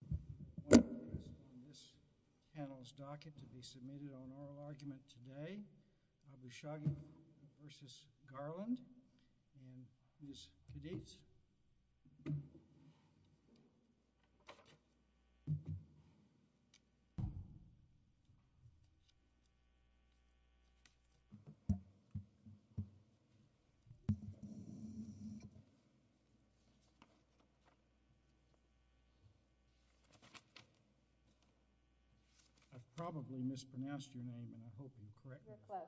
and Ms. Cadiz. I've probably mispronounced your name and I hope I'm correct. You're close.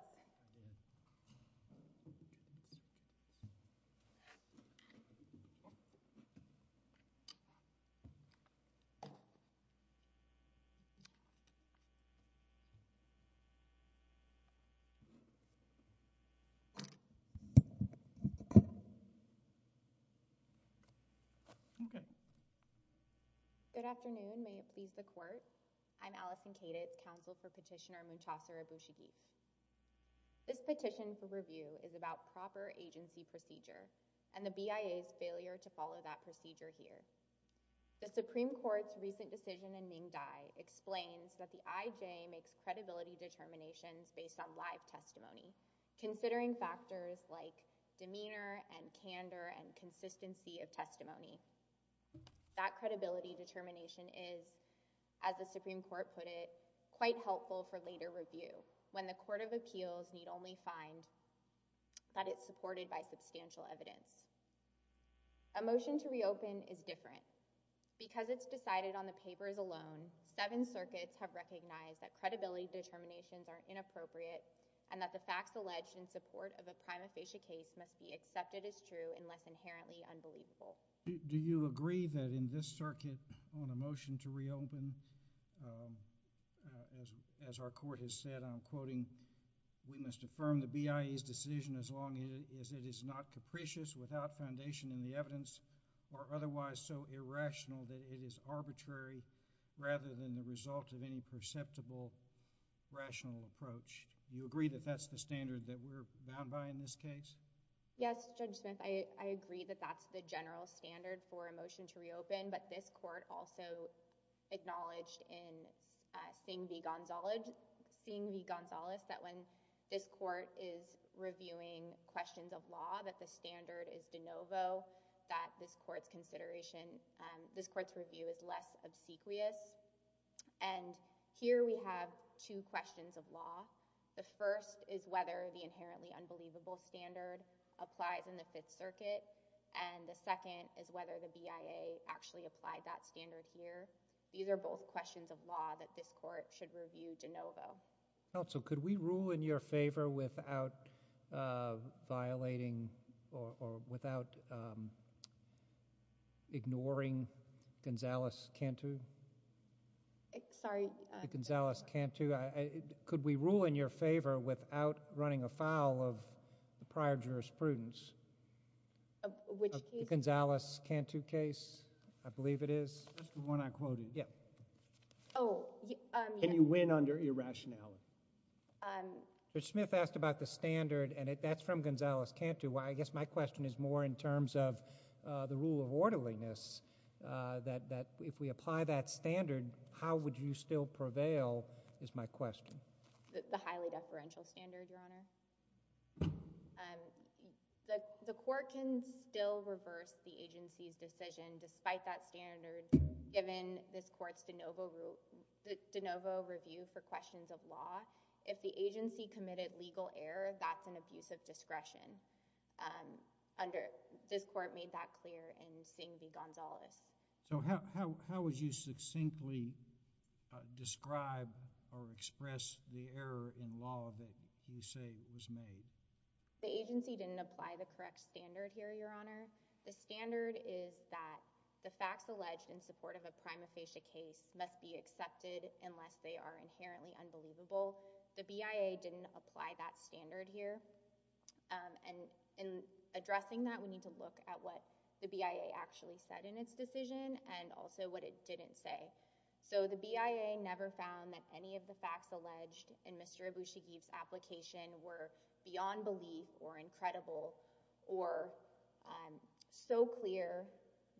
Okay. Good afternoon. May it please the Court. I'm Allison Cadiz, Counsel for Petitioner Munchauser Abushagif. This petition for review is about proper agency procedure and the BIA's failure to follow that procedure here. The Supreme Court's recent decision in Ninh Dai explains that the IJ makes credibility determinations based on live testimony, considering factors like demeanor and candor and consistency of testimony. That credibility determination is, as the Supreme Court put it, quite helpful for later review when the Court of Appeals need only find that it's supported by substantial evidence. A motion to reopen is different. Because it's decided on the papers alone, seven circuits have recognized that credibility determinations are inappropriate and that the facts alleged in support of a prima facie case must be accepted as true unless inherently unbelievable. Do you agree that in this circuit on a motion to reopen, as our Court has said, I'm quoting, we must affirm the BIA's decision as long as it is not capricious without foundation in the evidence or otherwise so irrational that it is arbitrary rather than the result of any perceptible rational approach? Do you agree that that's the standard that we're bound by in this case? Yes, Judge Smith. I agree that that's the general standard for a motion to reopen. But this court also acknowledged in Singh v. Gonzalez that when this court is reviewing questions of law, that the standard is de novo, that this court's consideration, this court's review is less obsequious. And here we have two questions of law. The first is whether the inherently unbelievable standard applies in the Fifth Circuit. And the second is whether the BIA actually applied that standard here. These are both questions of law that this court should review de novo. Also, could we rule in your favor without violating or without ignoring Gonzalez-Cantu? Sorry? Gonzalez-Cantu. Could we rule in your favor without running afoul of the prior jurisprudence? Which case? The Gonzalez-Cantu case, I believe it is. That's the one I quoted. Yeah. Oh. Can you win under irrationality? Judge Smith asked about the standard, and that's from Gonzalez-Cantu. I guess my question is more in terms of the rule of orderliness, that if we apply that standard, will it prevail, is my question. The highly deferential standard, Your Honor. The court can still reverse the agency's decision despite that standard, given this court's de novo review for questions of law. If the agency committed legal error, that's an abuse of discretion. This court made that clear in seeing the Gonzalez. So how would you succinctly describe or express the error in law that you say was made? The agency didn't apply the correct standard here, Your Honor. The standard is that the facts alleged in support of a prima facie case must be accepted unless they are inherently unbelievable. The BIA didn't apply that standard here. And in addressing that, we need to look at what the BIA actually said in its decision and also what it didn't say. So the BIA never found that any of the facts alleged in Mr. Abushagib's application were beyond belief or incredible or so clear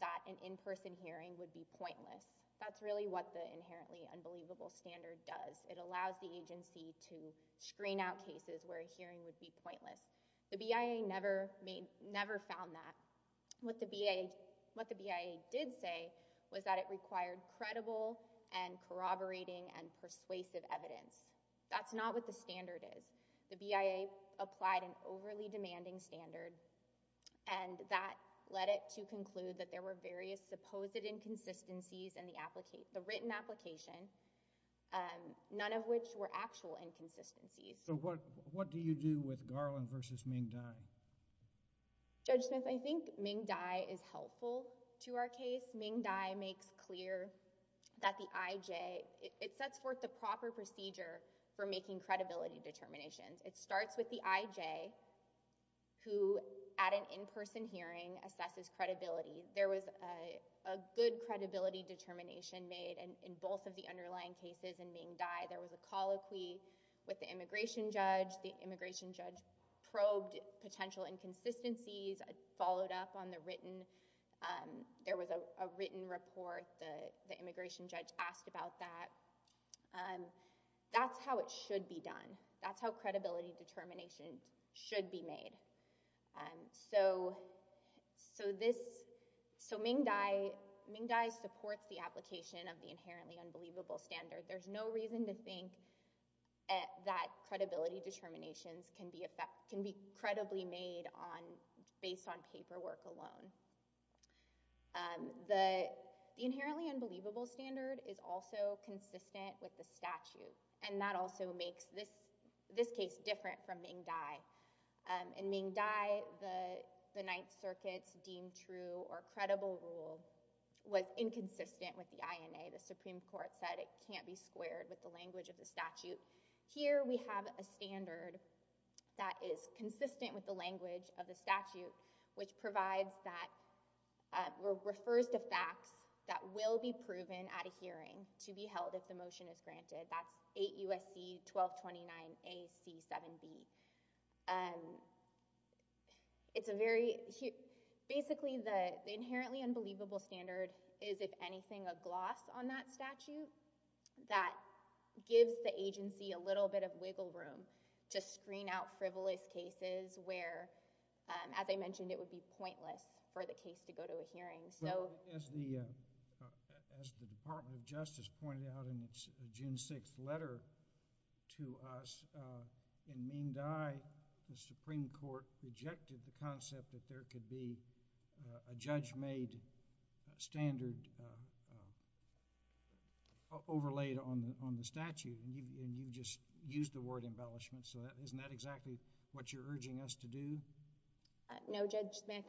that an in-person hearing would be pointless. That's really what the inherently unbelievable standard does. It allows the agency to screen out cases where a hearing would be pointless. The BIA never found that. What the BIA did say was that it required credible and corroborating and persuasive evidence. That's not what the standard is. The BIA applied an overly demanding standard, and that led it to conclude that there were various supposed inconsistencies in the written application, none of which were actual inconsistencies. So what do you do with Garland v. Ming Dai? Judge Smith, I think Ming Dai is helpful to our case. Ming Dai makes clear that the I.J.... It sets forth the proper procedure for making credibility determinations. It starts with the I.J.... who, at an in-person hearing, assesses credibility. There was a good credibility determination made in both of the underlying cases in Ming Dai. There was a colloquy with the immigration judge. The immigration judge probed potential inconsistencies, followed up on the written. There was a written report. The immigration judge asked about that. That's how it should be done. That's how credibility determinations should be made. So Ming Dai supports the application of the inherently unbelievable standard. There's no reason to think that credibility determinations can be credibly made based on paperwork alone. The inherently unbelievable standard is also consistent with the statute, and that also makes this case different from Ming Dai. In Ming Dai, the Ninth Circuit's deemed true or credible rule was inconsistent with the I.N.A. The Supreme Court said it can't be squared with the language of the statute. Here we have a standard that is consistent with the language of the statute, which provides that—refers to facts that will be proven at a hearing to be held if the motion is granted. That's 8 U.S.C. 1229 A.C. 7B. It's a very—basically, the inherently unbelievable standard is, if anything, a gloss on that statute that gives the agency a little bit of wiggle room to screen out frivolous cases where, as I mentioned, it would be pointless for the case to go to a hearing. As the Department of Justice pointed out in its June 6th letter to us, in Ming Dai, the Supreme Court rejected the concept that there could be a judge-made standard overlaid on the statute, and you just used the word embellishment, so isn't that exactly what you're urging us to do? No, Judge Smith.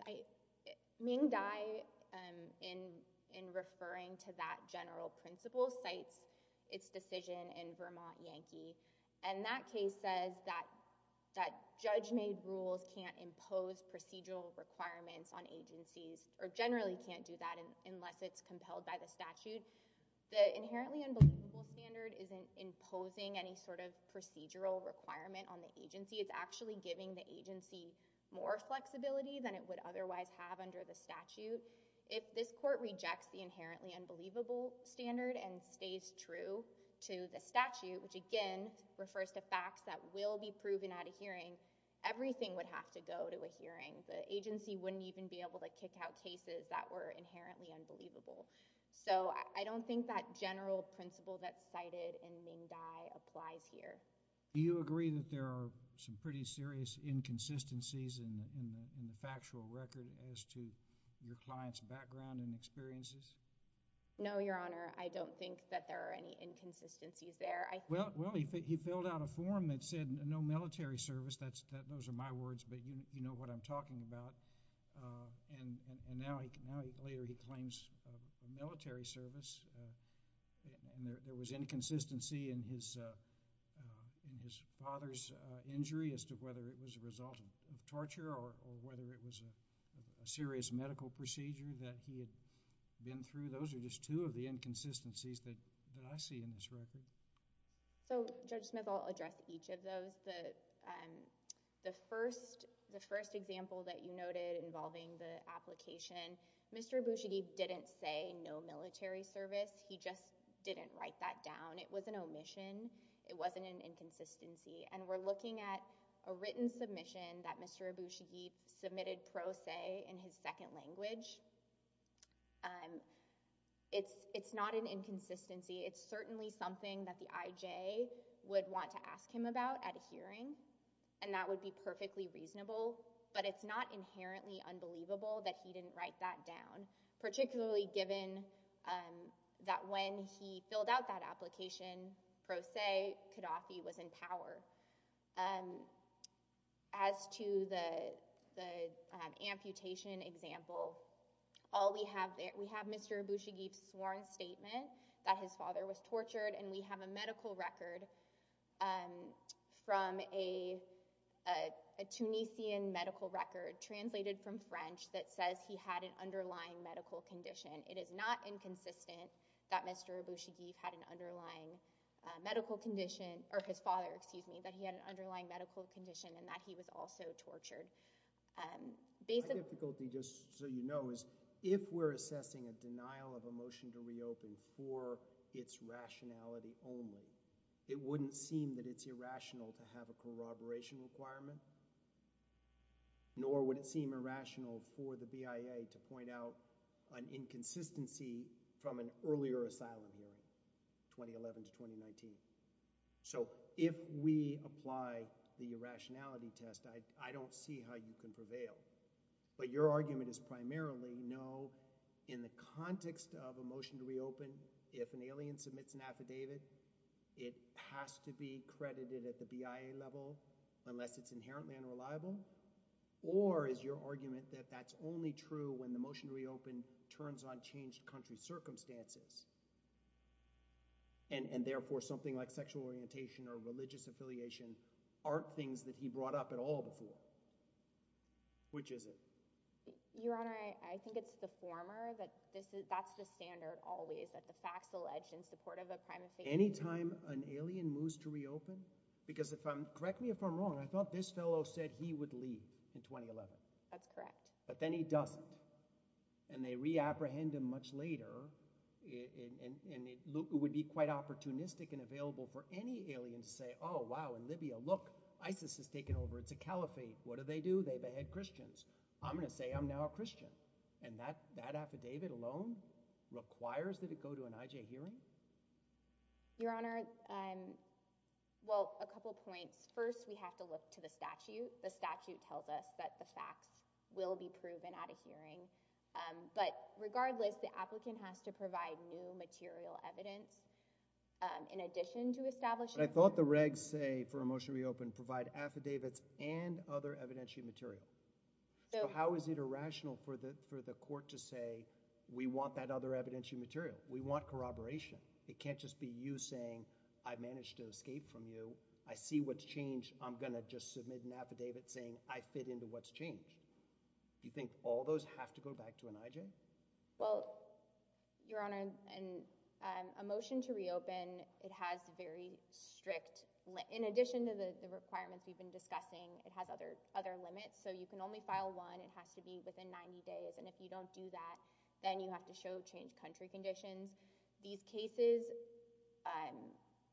Ming Dai, in referring to that general principle, cites its decision in Vermont Yankee, and that case says that judge-made rules can't impose procedural requirements on agencies, or generally can't do that unless it's compelled by the statute. The inherently unbelievable standard isn't imposing any sort of procedural requirement on the agency. It's actually giving the agency more flexibility than it would otherwise have under the statute. If this court rejects the inherently unbelievable standard and stays true to the statute, which again refers to facts that will be proven at a hearing, everything would have to go to a hearing. The agency wouldn't even be able to kick out cases that were inherently unbelievable. So I don't think that general principle that's cited in Ming Dai applies here. Do you agree that there are some pretty serious inconsistencies in the factual record as to your client's background and experiences? No, Your Honor. I don't think that there are any inconsistencies there. Well, he filled out a form that said no military service. Those are my words, but you know what I'm talking about. And now later he claims military service, and there was inconsistency in his father's injury as to whether it was a result of torture or whether it was a serious medical procedure that he had been through. Those are just two of the inconsistencies that I see in this record. So, Judge Smith, I'll address each of those. The first example that you noted involving the application, Mr. Abushagib didn't say no military service. He just didn't write that down. It was an omission. It wasn't an inconsistency. And we're looking at a written submission that Mr. Abushagib submitted pro se in his second language. It's not an inconsistency. It's certainly something that the IJ would want to ask him about at a hearing, and that would be perfectly reasonable. But it's not inherently unbelievable that he didn't write that down, particularly given that when he filled out that application pro se, Qaddafi was in power. As to the amputation example, we have Mr. Abushagib's sworn statement that his father was tortured, and we have a medical record from a Tunisian medical record, translated from French, that says he had an underlying medical condition. It is not inconsistent that Mr. Abushagib had an underlying medical condition, or his father, excuse me, that he had an underlying medical condition and that he was also tortured. My difficulty, just so you know, is if we're assessing a denial of a motion to reopen for its rationality only, it wouldn't seem that it's irrational to have a corroboration requirement, nor would it seem irrational for the BIA to point out an inconsistency from an earlier asylum hearing, 2011 to 2019. So, if we apply the irrationality test, I don't see how you can prevail. But your argument is primarily, no, in the context of a motion to reopen, if an alien submits an affidavit, it has to be credited at the BIA level, unless it's inherently unreliable, or is your argument that that's only true when the motion to reopen turns on changed country circumstances, and therefore something like sexual orientation or religious affiliation aren't things that he brought up at all before? Which is it? Your Honor, I think it's the former, but that's the standard always, that the facts allege in support of a crime of faith. Any time an alien moves to reopen, because if I'm, correct me if I'm wrong, I thought this fellow said he would leave in 2011. That's correct. But then he doesn't, and they reapprehend him much later, and it would be quite opportunistic and available for any alien to say, oh, wow, in Libya, look, ISIS has taken over, it's a caliphate, what do they do? They behead Christians. I'm going to say I'm now a Christian. And that affidavit alone requires that it go to an IJ hearing? Your Honor, well, a couple points. First, we have to look to the statute. The statute tells us that the facts will be proven at a hearing. But regardless, the applicant has to provide new material evidence in addition to establishing the evidence. But I thought the regs say for a motion to reopen provide affidavits and other evidentiary material. So how is it irrational for the court to say we want that other evidentiary material? We want corroboration. It can't just be you saying I managed to escape from you, I see what's changed, I'm going to just submit an affidavit saying I fit into what's changed. Do you think all those have to go back to an IJ? Well, Your Honor, a motion to reopen, it has very strict limits. In addition to the requirements we've been discussing, it has other limits. So you can only file one. It has to be within 90 days. And if you don't do that, then you have to show changed country conditions. These cases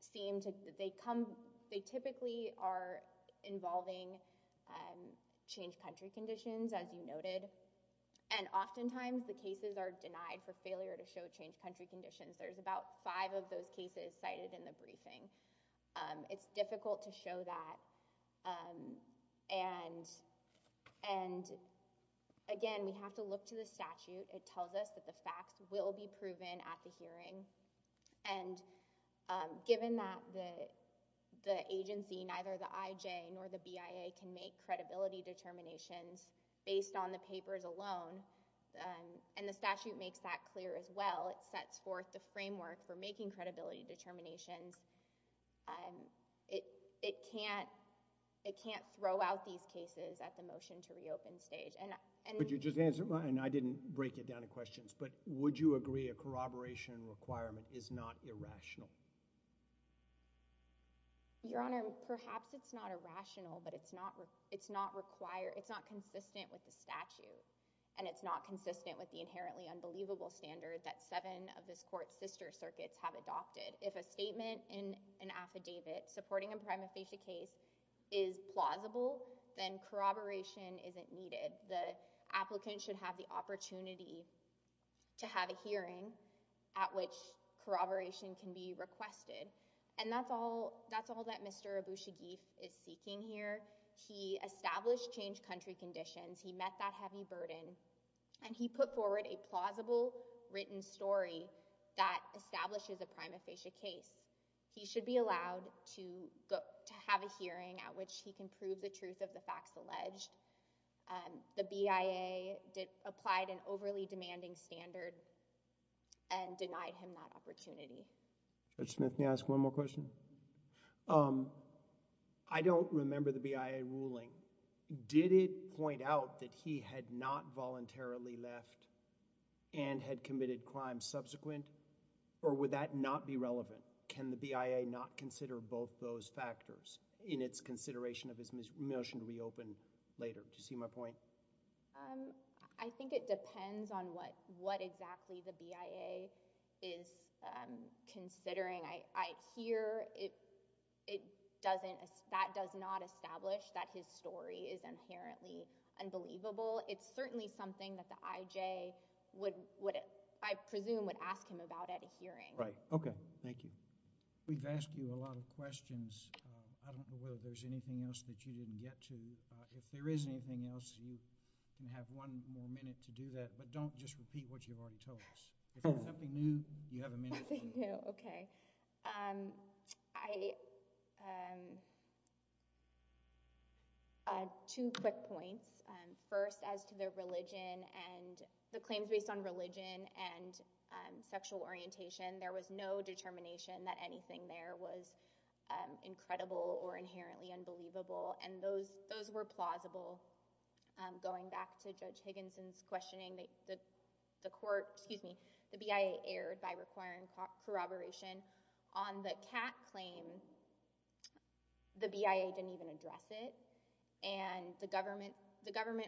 seem to—they typically are involving changed country conditions, as you noted. And oftentimes the cases are denied for failure to show changed country conditions. There's about five of those cases cited in the briefing. It's difficult to show that. And again, we have to look to the statute. It tells us that the facts will be proven at the hearing. And given that the agency, neither the IJ nor the BIA, can make credibility determinations based on the papers alone, and the statute makes that clear as well, it sets forth the framework for making credibility determinations. It can't throw out these cases at the motion to reopen stage. Could you just answer—and I didn't break it down in questions, but would you agree a corroboration requirement is not irrational? Your Honor, perhaps it's not irrational, but it's not consistent with the statute. And it's not consistent with the inherently unbelievable standard that seven of this Court's sister circuits have adopted. If a statement in an affidavit supporting a prima facie case is plausible, then corroboration isn't needed. The applicant should have the opportunity to have a hearing at which corroboration can be requested. And that's all that Mr. Abushagif is seeking here. He established changed country conditions. He met that heavy burden. And he put forward a plausible written story that establishes a prima facie case. He should be allowed to have a hearing at which he can prove the truth of the facts alleged. The BIA applied an overly demanding standard and denied him that opportunity. Judge Smith, may I ask one more question? I don't remember the BIA ruling. Did it point out that he had not voluntarily left and had committed crimes subsequent, or would that not be relevant? Can the BIA not consider both those factors in its consideration of his motion to reopen later? Do you see my point? I think it depends on what exactly the BIA is considering. I hear that does not establish that his story is inherently unbelievable. It's certainly something that the IJ, I presume, would ask him about at a hearing. Right. Okay. Thank you. We've asked you a lot of questions. I don't know whether there's anything else that you didn't get to. If there is anything else, you can have one more minute to do that. But don't just repeat what you've already told us. If there's something new, you have a minute. Nothing new. Okay. Two quick points. First, as to the claims based on religion and sexual orientation, there was no determination that anything there was incredible or inherently unbelievable. Those were plausible. Going back to Judge Higginson's questioning, the BIA erred by requiring corroboration. On the Kat claim, the BIA didn't even address it. The government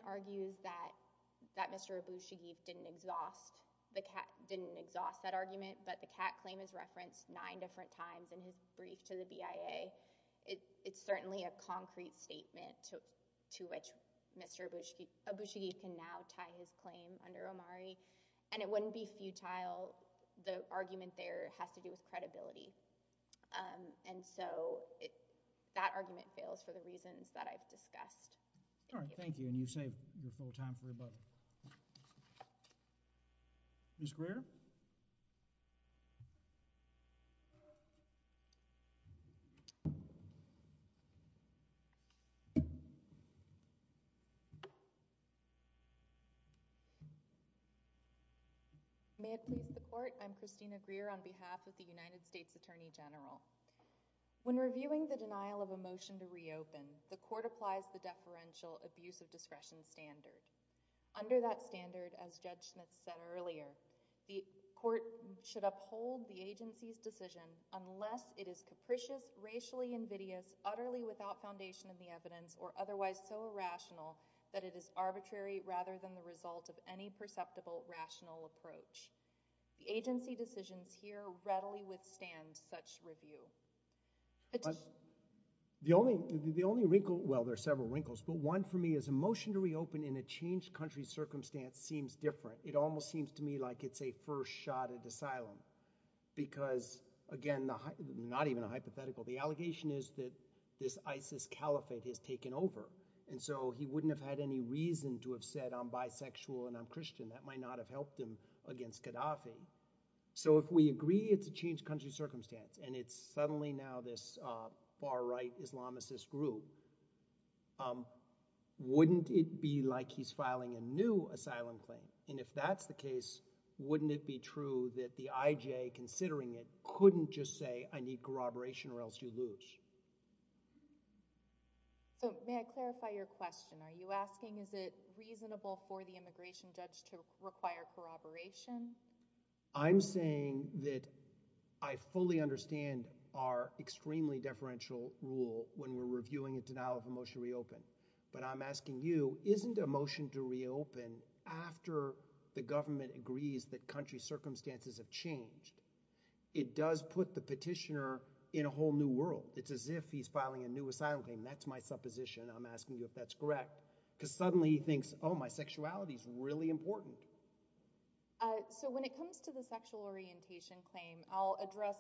argues that Mr. Abushagib didn't exhaust that argument, but the Kat claim is referenced nine different times in his brief to the BIA. It's certainly a concrete statement to which Mr. Abushagib can now tie his claim under Omari, and it wouldn't be futile. The argument there has to do with credibility. And so that argument fails for the reasons that I've discussed. All right. Thank you. And you've saved your full time for your book. Ms. Greer? May it please the court, I'm Christina Greer on behalf of the United States Attorney General. When reviewing the denial of a motion to reopen, the court applies the deferential abuse of discretion standard. Under that standard, as Judge Schmitz said earlier, the court should uphold the agency's decision unless it is capricious, racially invidious, utterly without foundation in the evidence, or otherwise so irrational that it is arbitrary rather than the result of any perceptible rational approach. The agency decisions here readily withstand such review. The only wrinkle, well, there are several wrinkles, but one for me is a motion to reopen in a changed country circumstance seems different. It almost seems to me like it's a first shot at asylum. Because, again, not even a hypothetical, the allegation is that this ISIS caliphate has taken over. And so he wouldn't have had any reason to have said, I'm bisexual and I'm Christian. That might not have helped him against Gaddafi. So if we agree it's a changed country circumstance, and it's suddenly now this far-right Islamicist group, wouldn't it be like he's filing a new asylum claim? And if that's the case, wouldn't it be true that the IJ, considering it, couldn't just say, I need corroboration or else you lose? So may I clarify your question? Are you asking is it reasonable for the immigration judge to require corroboration? I'm saying that I fully understand our extremely deferential rule when we're reviewing a denial of a motion to reopen. But I'm asking you, isn't a motion to reopen after the government agrees that country circumstances have changed, it does put the petitioner in a whole new world. It's as if he's filing a new asylum claim. That's my supposition. I'm asking you if that's correct. Because suddenly he thinks, oh, my sexuality's really important. So when it comes to the sexual orientation claim, I'll address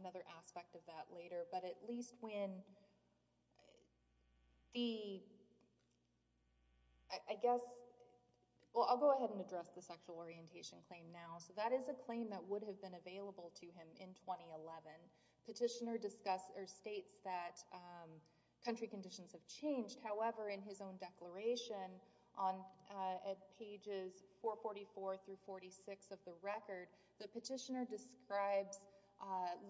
another aspect of that later. But at least when the... I guess... Well, I'll go ahead and address the sexual orientation claim now. So that is a claim that would have been available to him in 2011. Petitioner states that country conditions have changed. However, in his own declaration, on pages 444 through 46 of the record, the petitioner describes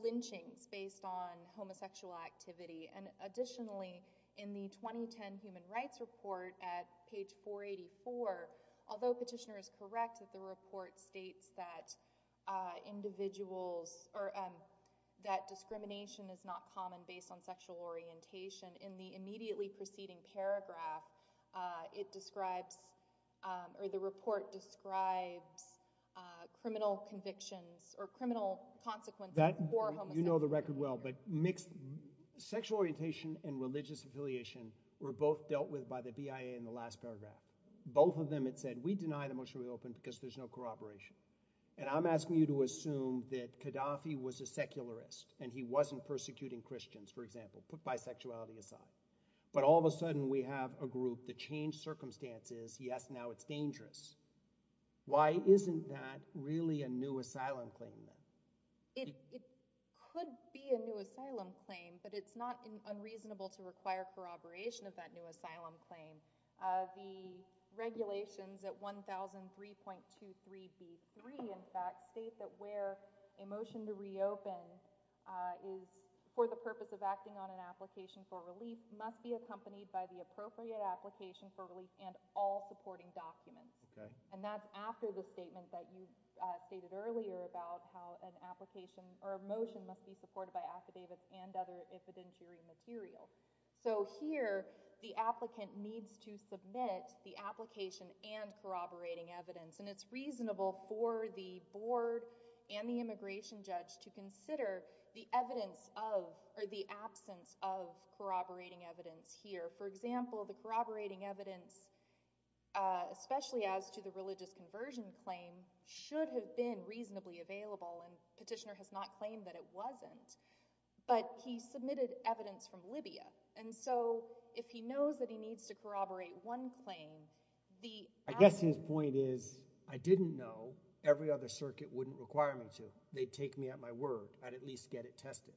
lynchings based on homosexual activity. And additionally, in the 2010 Human Rights Report, at page 484, although petitioner is correct that the report states that individuals... that discrimination is not common based on sexual orientation, in the immediately preceding paragraph, it describes... or the report describes criminal convictions or criminal consequences for homosexuals. You know the record well, but mixed... sexual orientation and religious affiliation were both dealt with by the BIA in the last paragraph. Both of them had said, we deny the motion we opened because there's no corroboration. And I'm asking you to assume that Gaddafi was a secularist and he wasn't persecuting Christians, for example, put bisexuality aside. But all of a sudden we have a group that changed circumstances. He asked, now it's dangerous. Why isn't that really a new asylum claim then? It could be a new asylum claim, but it's not unreasonable to require corroboration of that new asylum claim. The regulations at 1003.23b3, in fact, state that where a motion to reopen is... for the purpose of acting on an application for relief must be accompanied by the appropriate application for relief and all supporting documents. And that's after the statement that you stated earlier about how an application or a motion must be supported by affidavits and other evidentiary material. So here the applicant needs to submit the application and corroborating evidence. And it's reasonable for the board and the immigration judge to consider the evidence of... or the absence of corroborating evidence here. For example, the corroborating evidence, especially as to the religious conversion claim, should have been reasonably available, and the petitioner has not claimed that it wasn't. But he submitted evidence from Libya, and so if he knows that he needs to corroborate one claim... I guess his point is, I didn't know every other circuit wouldn't require me to. They'd take me at my word. I'd at least get it tested.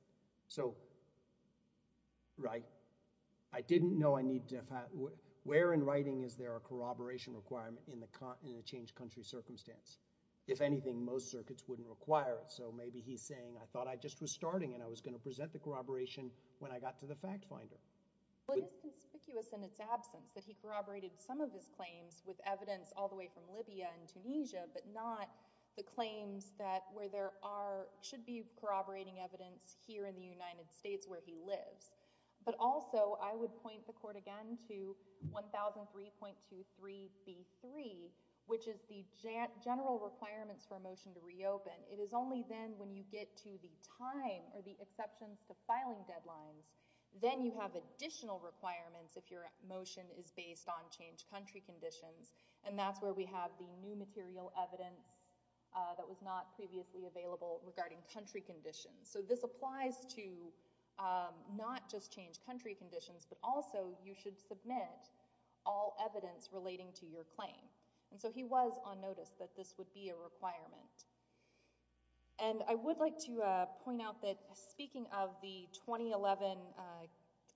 So...right. I didn't know I needed to... Where in writing is there a corroboration requirement in a changed country circumstance? If anything, most circuits wouldn't require it. So maybe he's saying, I thought I just was starting, and I was going to present the corroboration when I got to the FactFinder. Well, it is conspicuous in its absence that he corroborated some of his claims with evidence all the way from Libya and Tunisia, but not the claims that where there are... should be corroborating evidence here in the United States where he lives. But also, I would point the court again to 1003.23b.3, which is the general requirements for a motion to reopen. It is only then when you get to the time or the exceptions to filing deadlines, then you have additional requirements if your motion is based on changed country conditions, and that's where we have the new material evidence that was not previously available regarding country conditions. So this applies to not just changed country conditions, but also you should submit all evidence relating to your claim. And so he was on notice that this would be a requirement. And I would like to point out that speaking of the 2011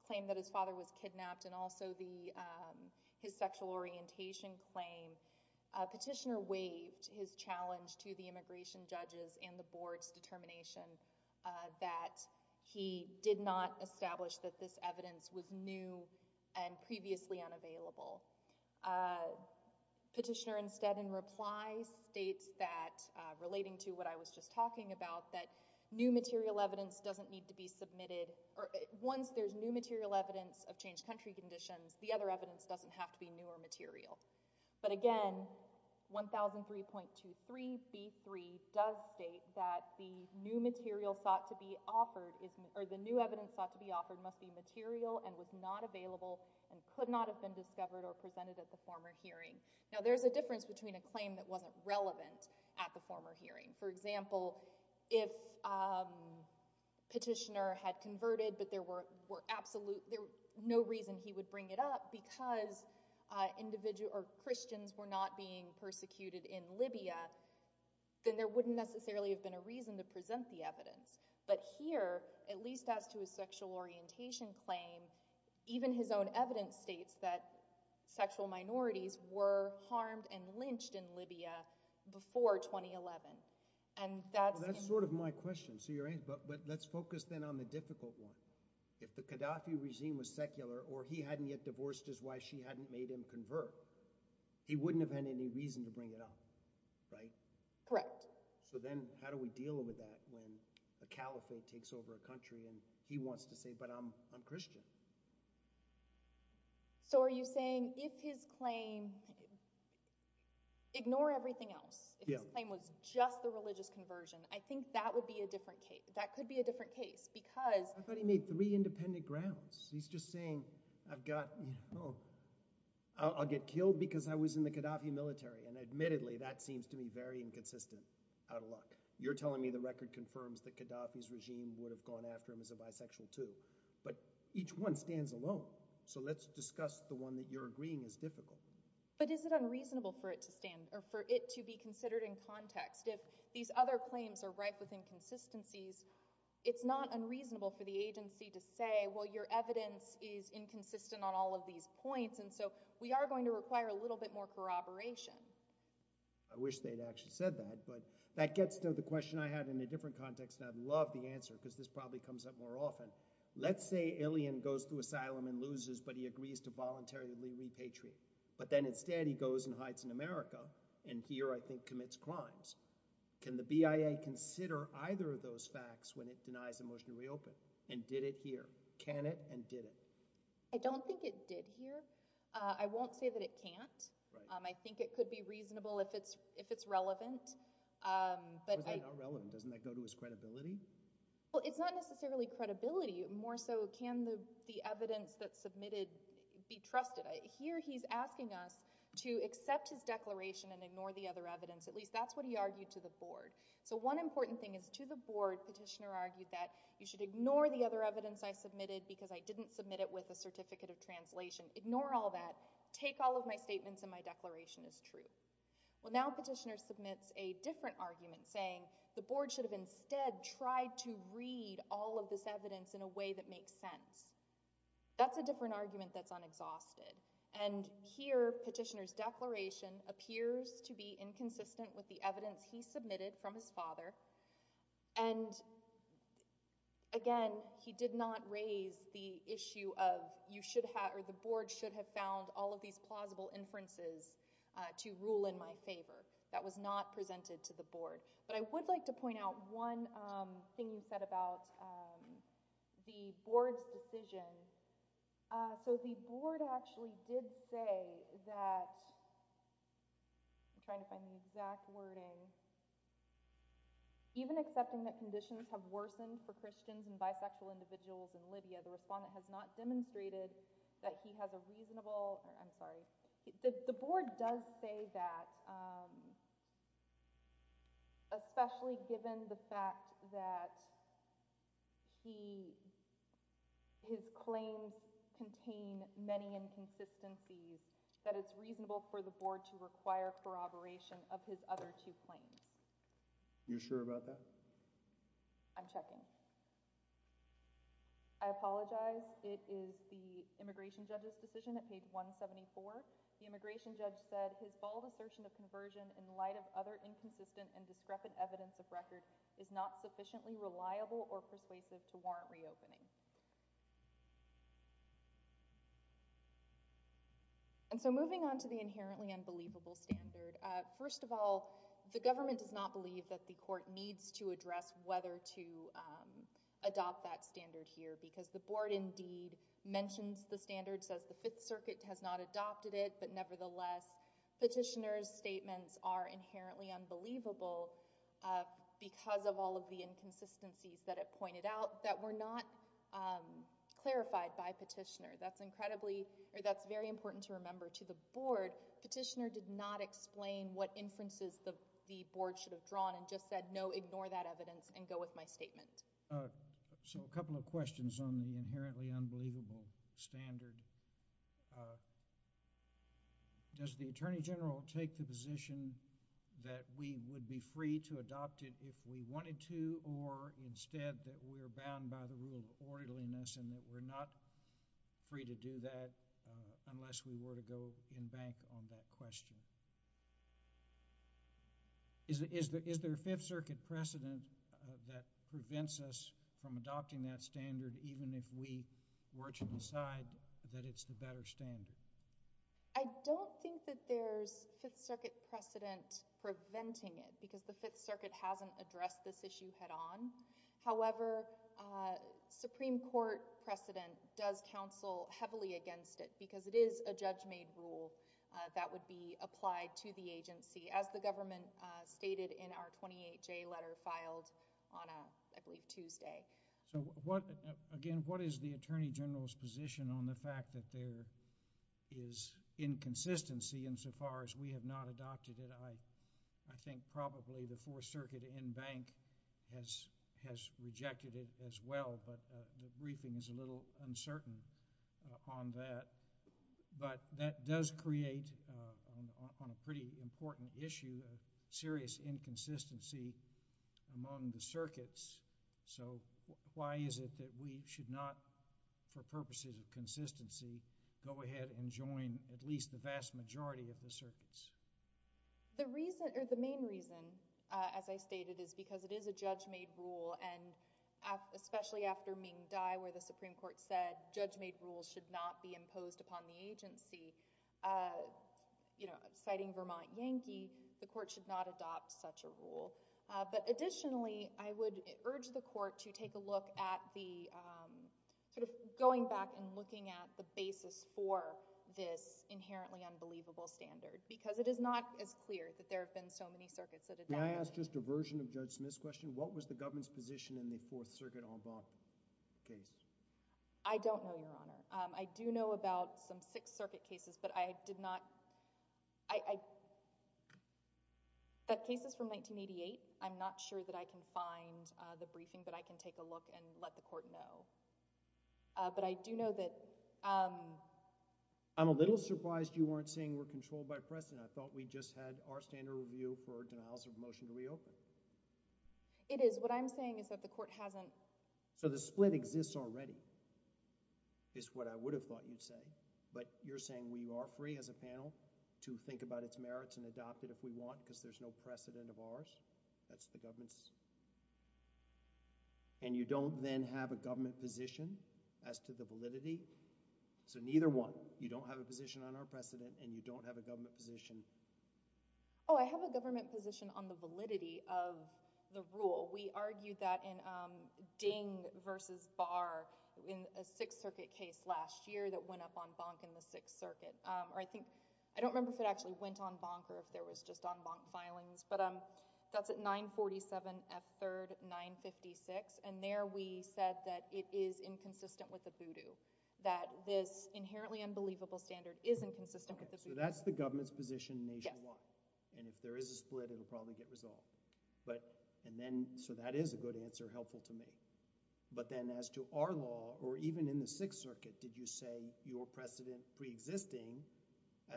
claim that his father was kidnapped and also his sexual orientation claim, a petitioner waived his challenge to the immigration judges and the board's determination that he did not establish that this evidence was new and previously unavailable. Petitioner instead, in reply, states that, relating to what I was just talking about, that new material evidence doesn't need to be submitted... Once there's new material evidence of changed country conditions, the other evidence doesn't have to be new or material. But again, 1003.23b3 does state that the new material sought to be offered... Or the new evidence sought to be offered must be material and was not available and could not have been discovered or presented at the former hearing. Now, there's a difference between a claim that wasn't relevant at the former hearing. For example, if petitioner had converted but there were no reason he would bring it up because Christians were not being persecuted in Libya, then there wouldn't necessarily have been a reason to present the evidence. But here, at least as to his sexual orientation claim, even his own evidence states that sexual minorities were harmed and lynched in Libya before 2011. And that's... That's sort of my question. But let's focus then on the difficult one. If the Qaddafi regime was secular or he hadn't yet divorced his wife, she hadn't made him convert, he wouldn't have had any reason to bring it up, right? Correct. So then how do we deal with that when a caliphate takes over a country and he wants to say, but I'm Christian? So are you saying if his claim... Ignore everything else. If his claim was just the religious conversion, I think that would be a different case. That could be a different case because... I thought he made three independent grounds. He's just saying, I've got, you know... I'll get killed because I was in the Qaddafi military. And admittedly, that seems to me very inconsistent. Out of luck. You're telling me the record confirms that Qaddafi's regime would have gone after him as a bisexual too. But each one stands alone. So let's discuss the one that you're agreeing is difficult. But is it unreasonable for it to stand or for it to be considered in context if these other claims are rife with inconsistencies? It's not unreasonable for the agency to say, well, your evidence is inconsistent on all of these points. And so we are going to require a little bit more corroboration. I wish they'd actually said that. But that gets to the question I had in a different context. And I'd love the answer because this probably comes up more often. Let's say Ilyin goes to asylum and loses, but he agrees to voluntarily repatriate. But then instead he goes and hides in America and here, I think, commits crimes. Can the BIA consider either of those facts when it denies a motion to reopen? And did it here? Can it and did it? I don't think it did here. I won't say that it can't. I think it could be reasonable if it's relevant. How is that not relevant? Doesn't that go to his credibility? Well, it's not necessarily credibility. More so, can the evidence that's submitted be trusted? Here he's asking us to accept his declaration and ignore the other evidence. At least that's what he argued to the board. So one important thing is to the board, Petitioner argued that you should ignore the other evidence I submitted because I didn't submit it with a certificate of translation. Ignore all that. Take all of my statements and my declaration as true. Well, now Petitioner submits a different argument saying the board should have instead tried to read all of this evidence in a way that makes sense. That's a different argument that's unexhausted. And here Petitioner's declaration appears to be inconsistent with the evidence he submitted from his father. And again, he did not raise the issue of you should have or the board should have found all of these plausible inferences to rule in my favor. That was not presented to the board. But I would like to point out one thing he said about the board's decision. So the board actually did say that I'm trying to find the exact wording. Even accepting that conditions have worsened for Christians and bisexual individuals in Libya, the respondent has not demonstrated that he has a reasonable... I'm sorry. The board does say that especially given the fact that his claims contain many inconsistencies, that it's reasonable for the board to require corroboration of his other two claims. You sure about that? I'm checking. I apologize. It is the immigration judge's decision at page 174. The immigration judge said his bold assertion of conversion in light of other inconsistent and discrepant evidence of record is not sufficiently reliable or persuasive to warrant reopening. And so moving on to the inherently unbelievable standard, first of all, the government does not believe that the court needs to address whether to adopt that standard here because the board indeed mentions the standard, says the Fifth Circuit has not adopted it, but nevertheless, petitioner's statements are inherently unbelievable because of all of the inconsistencies that it pointed out that were not clarified by petitioner. That's incredibly... That's very important to remember to the board. Petitioner did not explain what inferences the board should have drawn and just said, no, ignore that evidence and go with my statement. So a couple of questions on the inherently unbelievable standard. Does the attorney general take the position that we would be free to adopt it if we wanted to or instead that we're bound by the rule of orderliness and that we're not free to do that unless we were to go in bank on that question? Is there a Fifth Circuit precedent that prevents us from adopting that standard even if we were to decide that it's the better standard? I don't think that there's Fifth Circuit precedent preventing it because the Fifth Circuit hasn't addressed this issue head-on. However, Supreme Court precedent does counsel heavily against it because it is a judge-made rule that would be applied to the agency as the government stated in our 28-J letter filed on, I believe, Tuesday. So again, what is the attorney general's position on the fact that there is inconsistency insofar as we have not adopted it? I think probably the Fourth Circuit in bank has rejected it as well, but the briefing is a little uncertain on that. But that does create, on a pretty important issue, a serious inconsistency among the circuits. So why is it that we should not, for purposes of consistency, go ahead and join at least the vast majority of the circuits? The main reason, as I stated, is because it is a judge-made rule and especially after Ming Dai, where the Supreme Court said judge-made rules should not be imposed upon the agency, citing Vermont Yankee, the court should not adopt such a rule. But additionally, I would urge the court to take a look at the, sort of going back and looking at the basis for this inherently unbelievable standard, because it is not as clear that there have been so many circuits that adopted it. May I ask just a version of Judge Smith's question? What was the government's position in the Fourth Circuit en bas case? I don't know, Your Honor. I do know about some Sixth Circuit cases, but I did not... That case is from 1988. I'm not sure that I can find the briefing, but I can take a look and let the court know. But I do know that... I'm a little surprised you weren't saying we're controlled by precedent. I thought we just had our standard review for denials of motion to reopen. It is. What I'm saying is that the court hasn't... So the split exists already, is what I would have thought you'd say, but you're saying we are free as a panel to think about its merits and adopt it if we want, because there's no precedent of ours? That's the government's... And you don't then have a government position as to the validity? So neither one. You don't have a position on our precedent, and you don't have a government position... Oh, I have a government position on the validity of the rule. We argued that in Ding v. Barr in a Sixth Circuit case last year that went up on bunk in the Sixth Circuit. I don't remember if it actually went on bunk or if there was just on bunk filings, but that's at 947 F. 3rd 956, and there we said that it is inconsistent with the voodoo, that this inherently unbelievable standard is inconsistent with the voodoo. So that's the government's position nationwide? Yes. And if there is a split, it'll probably get resolved. So that is a good answer, helpful to me. But then as to our law, or even in the Sixth Circuit, did you say your precedent preexisting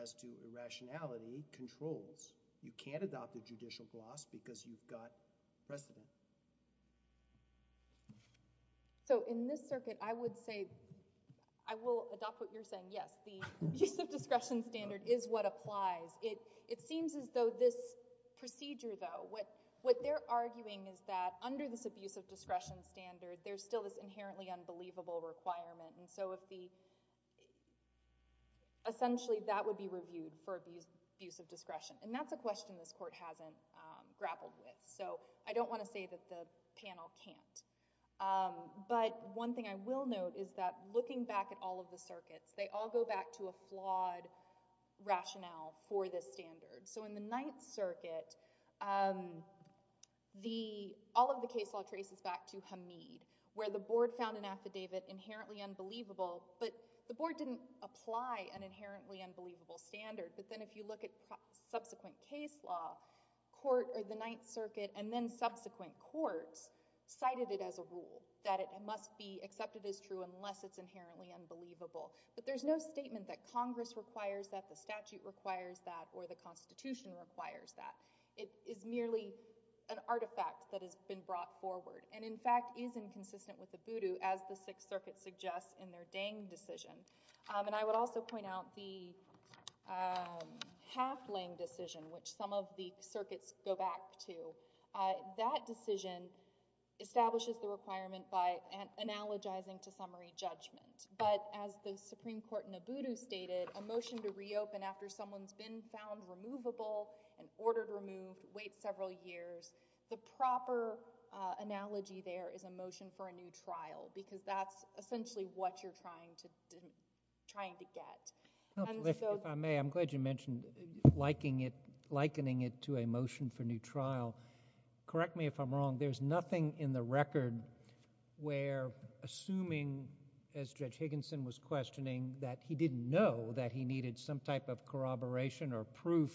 as to irrationality controls? You can't adopt the judicial gloss because you've got precedent. So in this circuit, I would say... I will adopt what you're saying, yes. The use of discretion standard is what applies. It seems as though this procedure, though, what they're arguing is that under this abuse of discretion standard, there's still this inherently unbelievable requirement, and so essentially that would be reviewed for abuse of discretion. And that's a question this court hasn't grappled with, so I don't want to say that the panel can't. But one thing I will note is that looking back at all of the circuits, they all go back to a flawed rationale for this standard. So in the Ninth Circuit, all of the case law traces back to Hamid, where the board found an affidavit inherently unbelievable, but the board didn't apply an inherently unbelievable standard. But then if you look at subsequent case law, the Ninth Circuit and then subsequent courts cited it as a rule that it must be accepted as true unless it's inherently unbelievable. But there's no statement that Congress requires that, the statute requires that, or the Constitution requires that. It is merely an artifact that has been brought forward, and in fact is inconsistent with Ubudu, as the Sixth Circuit suggests in their Dang decision. And I would also point out the Halfling decision, which some of the circuits go back to. That decision establishes the requirement by analogizing to summary judgment. But as the Supreme Court in Ubudu stated, a motion to reopen after someone's been found removable and ordered removed, waits several years, the proper analogy there is a motion for a new trial, because that's essentially what you're trying to get. If I may, I'm glad you mentioned likening it to a motion for new trial. Correct me if I'm wrong, there's nothing in the record where assuming, as Judge Higginson was questioning, that he didn't know that he needed some type of corroboration or proof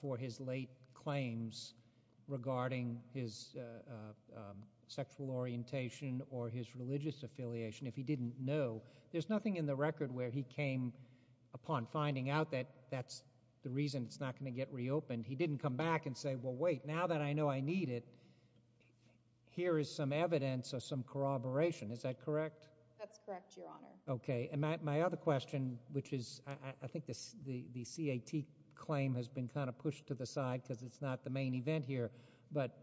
for his late claims regarding his sexual orientation or his religious affiliation. If he didn't know, there's nothing in the record where he came upon finding out that that's the reason it's not going to get reopened. He didn't come back and say, well wait, now that I know I need it, here is some evidence of some corroboration. Is that correct? That's correct, Your Honor. Okay, and my other question, which is I think the C.A.T. claim has been kind of pushed to the side because it's not the main event here, but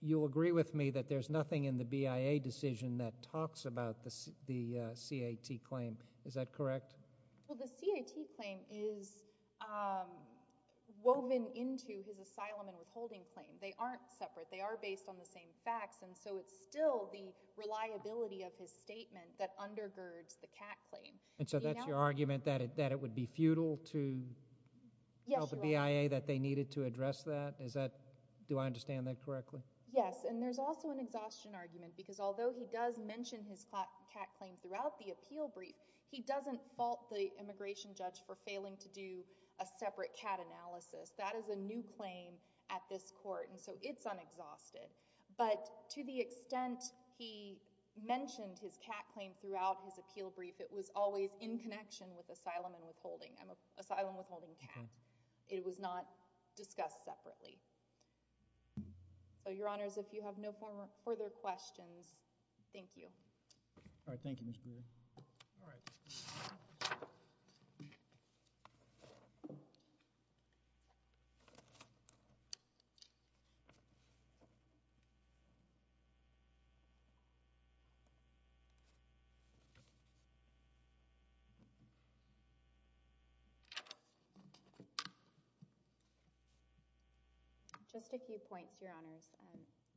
you'll agree with me that there's nothing in the BIA decision that talks about the C.A.T. claim. Is that correct? Well, the C.A.T. claim is woven into his asylum and withholding claim. They aren't separate. They are based on the same facts, and so it's still the reliability of his statement that undergirds the C.A.T. claim. And so that's your argument, that it would be futile to tell the BIA that they needed to address that? Do I understand that correctly? Yes, and there's also an exhaustion argument because although he does mention his C.A.T. claim throughout the appeal brief, he doesn't fault the immigration judge for failing to do a separate C.A.T. analysis. That is a new claim at this court, and so it's unexhausted. But to the extent he mentioned his C.A.T. claim throughout his appeal brief, it was always in connection with asylum and withholding. Asylum, withholding, C.A.T. It was not discussed separately. So, Your Honors, if you have no further questions, thank you. All right, thank you, Ms. Brewer. All right. Just a few points, Your Honors.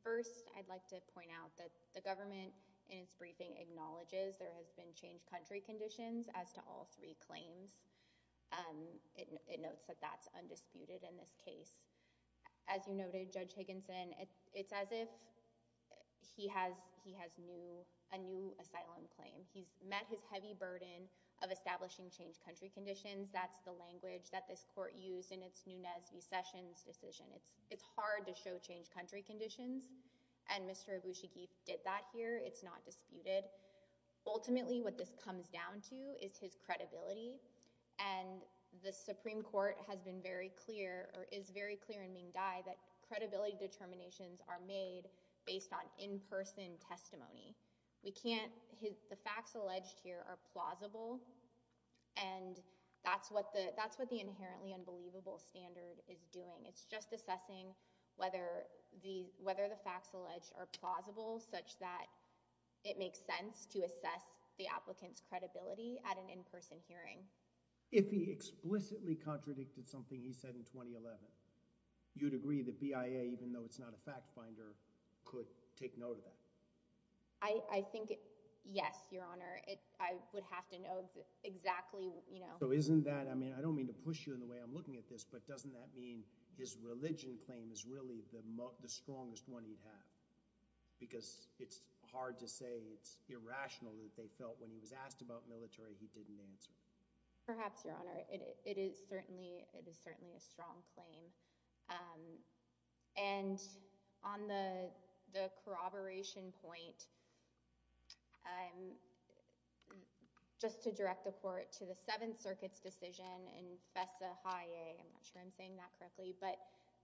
First, I'd like to point out that the government in its briefing acknowledges there has been changed country conditions as to all three claims. It notes that that's undisputed in this case. As you noted, Judge Higginson, it's as if he has a new asylum claim. He's met his heavy burden of establishing changed country conditions. That's the language that this court used in its Nunez v. Sessions decision. It's hard to show changed country conditions, and Mr. Abushagib did that here. It's not disputed. Ultimately, what this comes down to is his credibility, and the Supreme Court has been very clear or is very clear in Ming Dai that credibility determinations are made based on in-person testimony. We can't... The facts alleged here are plausible, and that's what the inherently unbelievable standard is doing. It's just assessing whether the facts alleged are plausible such that it makes sense to assess the applicant's credibility at an in-person hearing. If he explicitly contradicted something he said in 2011, you'd agree that BIA, even though it's not a fact finder, could take note of that? I think yes, Your Honor. I would have to know exactly, you know... So isn't that... I mean, I don't mean to push you in the way I'm looking at this, but doesn't that mean his religion claim is really the strongest one he'd have? Because it's hard to say it's irrational that they felt when he was asked about military, he didn't answer. Perhaps, Your Honor. It is certainly a strong claim. And on the corroboration point, just to direct the court to the Seventh Circuit's decision in FESA-HI-A, I'm not sure I'm saying that correctly, but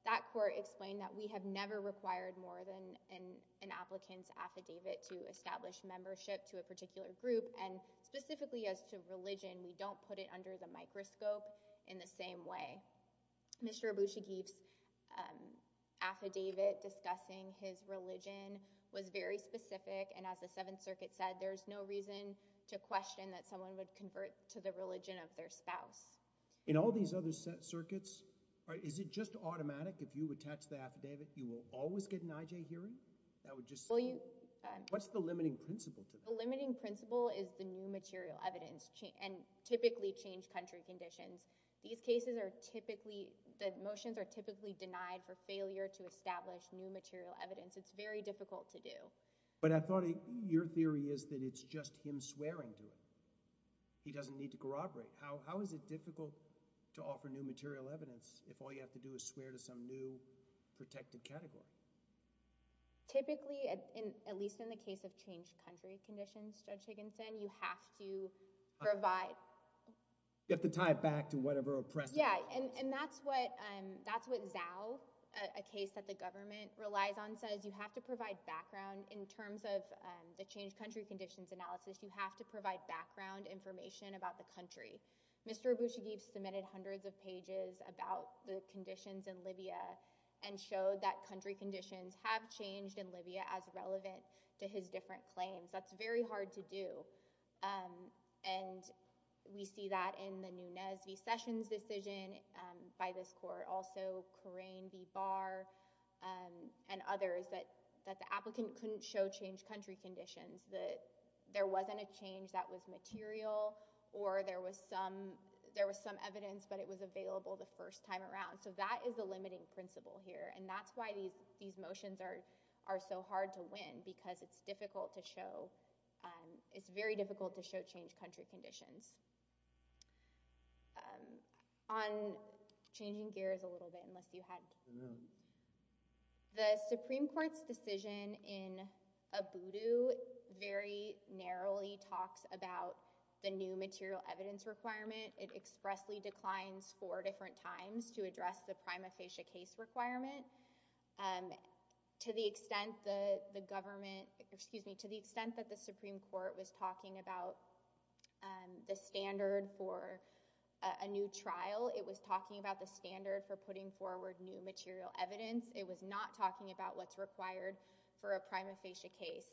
that court explained that we have never required more than an applicant's affidavit and specifically as to religion, and we don't put it under the microscope in the same way. Mr. Abushagib's affidavit discussing his religion was very specific, and as the Seventh Circuit said, there's no reason to question that someone would convert to the religion of their spouse. In all these other circuits, is it just automatic if you attach the affidavit, you will always get an IJ hearing? That would just... What's the limiting principle to that? The limiting principle is the new material evidence, and typically changed country conditions. These cases are typically, the motions are typically denied for failure to establish new material evidence. It's very difficult to do. But I thought your theory is that it's just him swearing to it. He doesn't need to corroborate. How is it difficult to offer new material evidence if all you have to do is swear to some new protected category? Typically, at least in the case of changed country conditions, Judge Higginson, you have to provide... You have to tie it back to whatever oppressive evidence. Yeah, and that's what Zhao, a case that the government relies on, says. You have to provide background. In terms of the changed country conditions analysis, you have to provide background information about the country. Mr. Abushagib submitted hundreds of pages about the conditions in Libya and showed that country conditions have changed in Libya as relevant to his different claims. That's very hard to do. And we see that in the Nunes v. Sessions decision by this court, also Coraine v. Barr and others, that the applicant couldn't show changed country conditions, that there wasn't a change that was material or there was some evidence but it was available the first time around. So that is the limiting principle here. And that's why these motions are so hard to win because it's difficult to show... It's very difficult to show changed country conditions. On changing gears a little bit, unless you had... The Supreme Court's decision in Abudu very narrowly talks about the new material evidence requirement. It expressly declines four different times to address the prima facie case requirement. To the extent that the government... Excuse me, to the extent that the Supreme Court was talking about the standard for a new trial, it was talking about the standard for putting forward new material evidence. It was not talking about what's required for a prima facie case.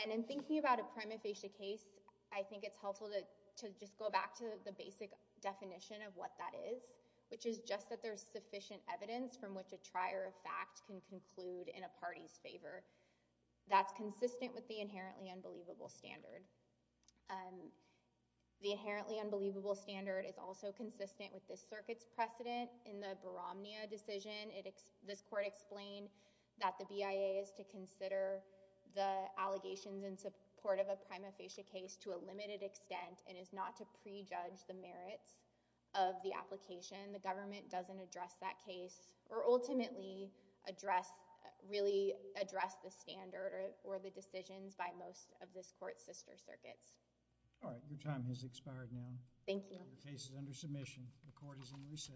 And in thinking about a prima facie case, I think it's helpful to just go back to the basic definition of what that is, which is just that there's sufficient evidence from which a trier of fact can conclude in a party's favor. That's consistent with the inherently unbelievable standard. The inherently unbelievable standard is also consistent with this circuit's precedent. In the Baromnia decision, this court explained that the BIA is to consider the allegations in support of a prima facie case to a limited extent and is not to prejudge the merits of the application. The government doesn't address that case or ultimately really address the standard or the decisions by most of this court's sister circuits. All right, your time has expired now. Thank you. The court is in recess.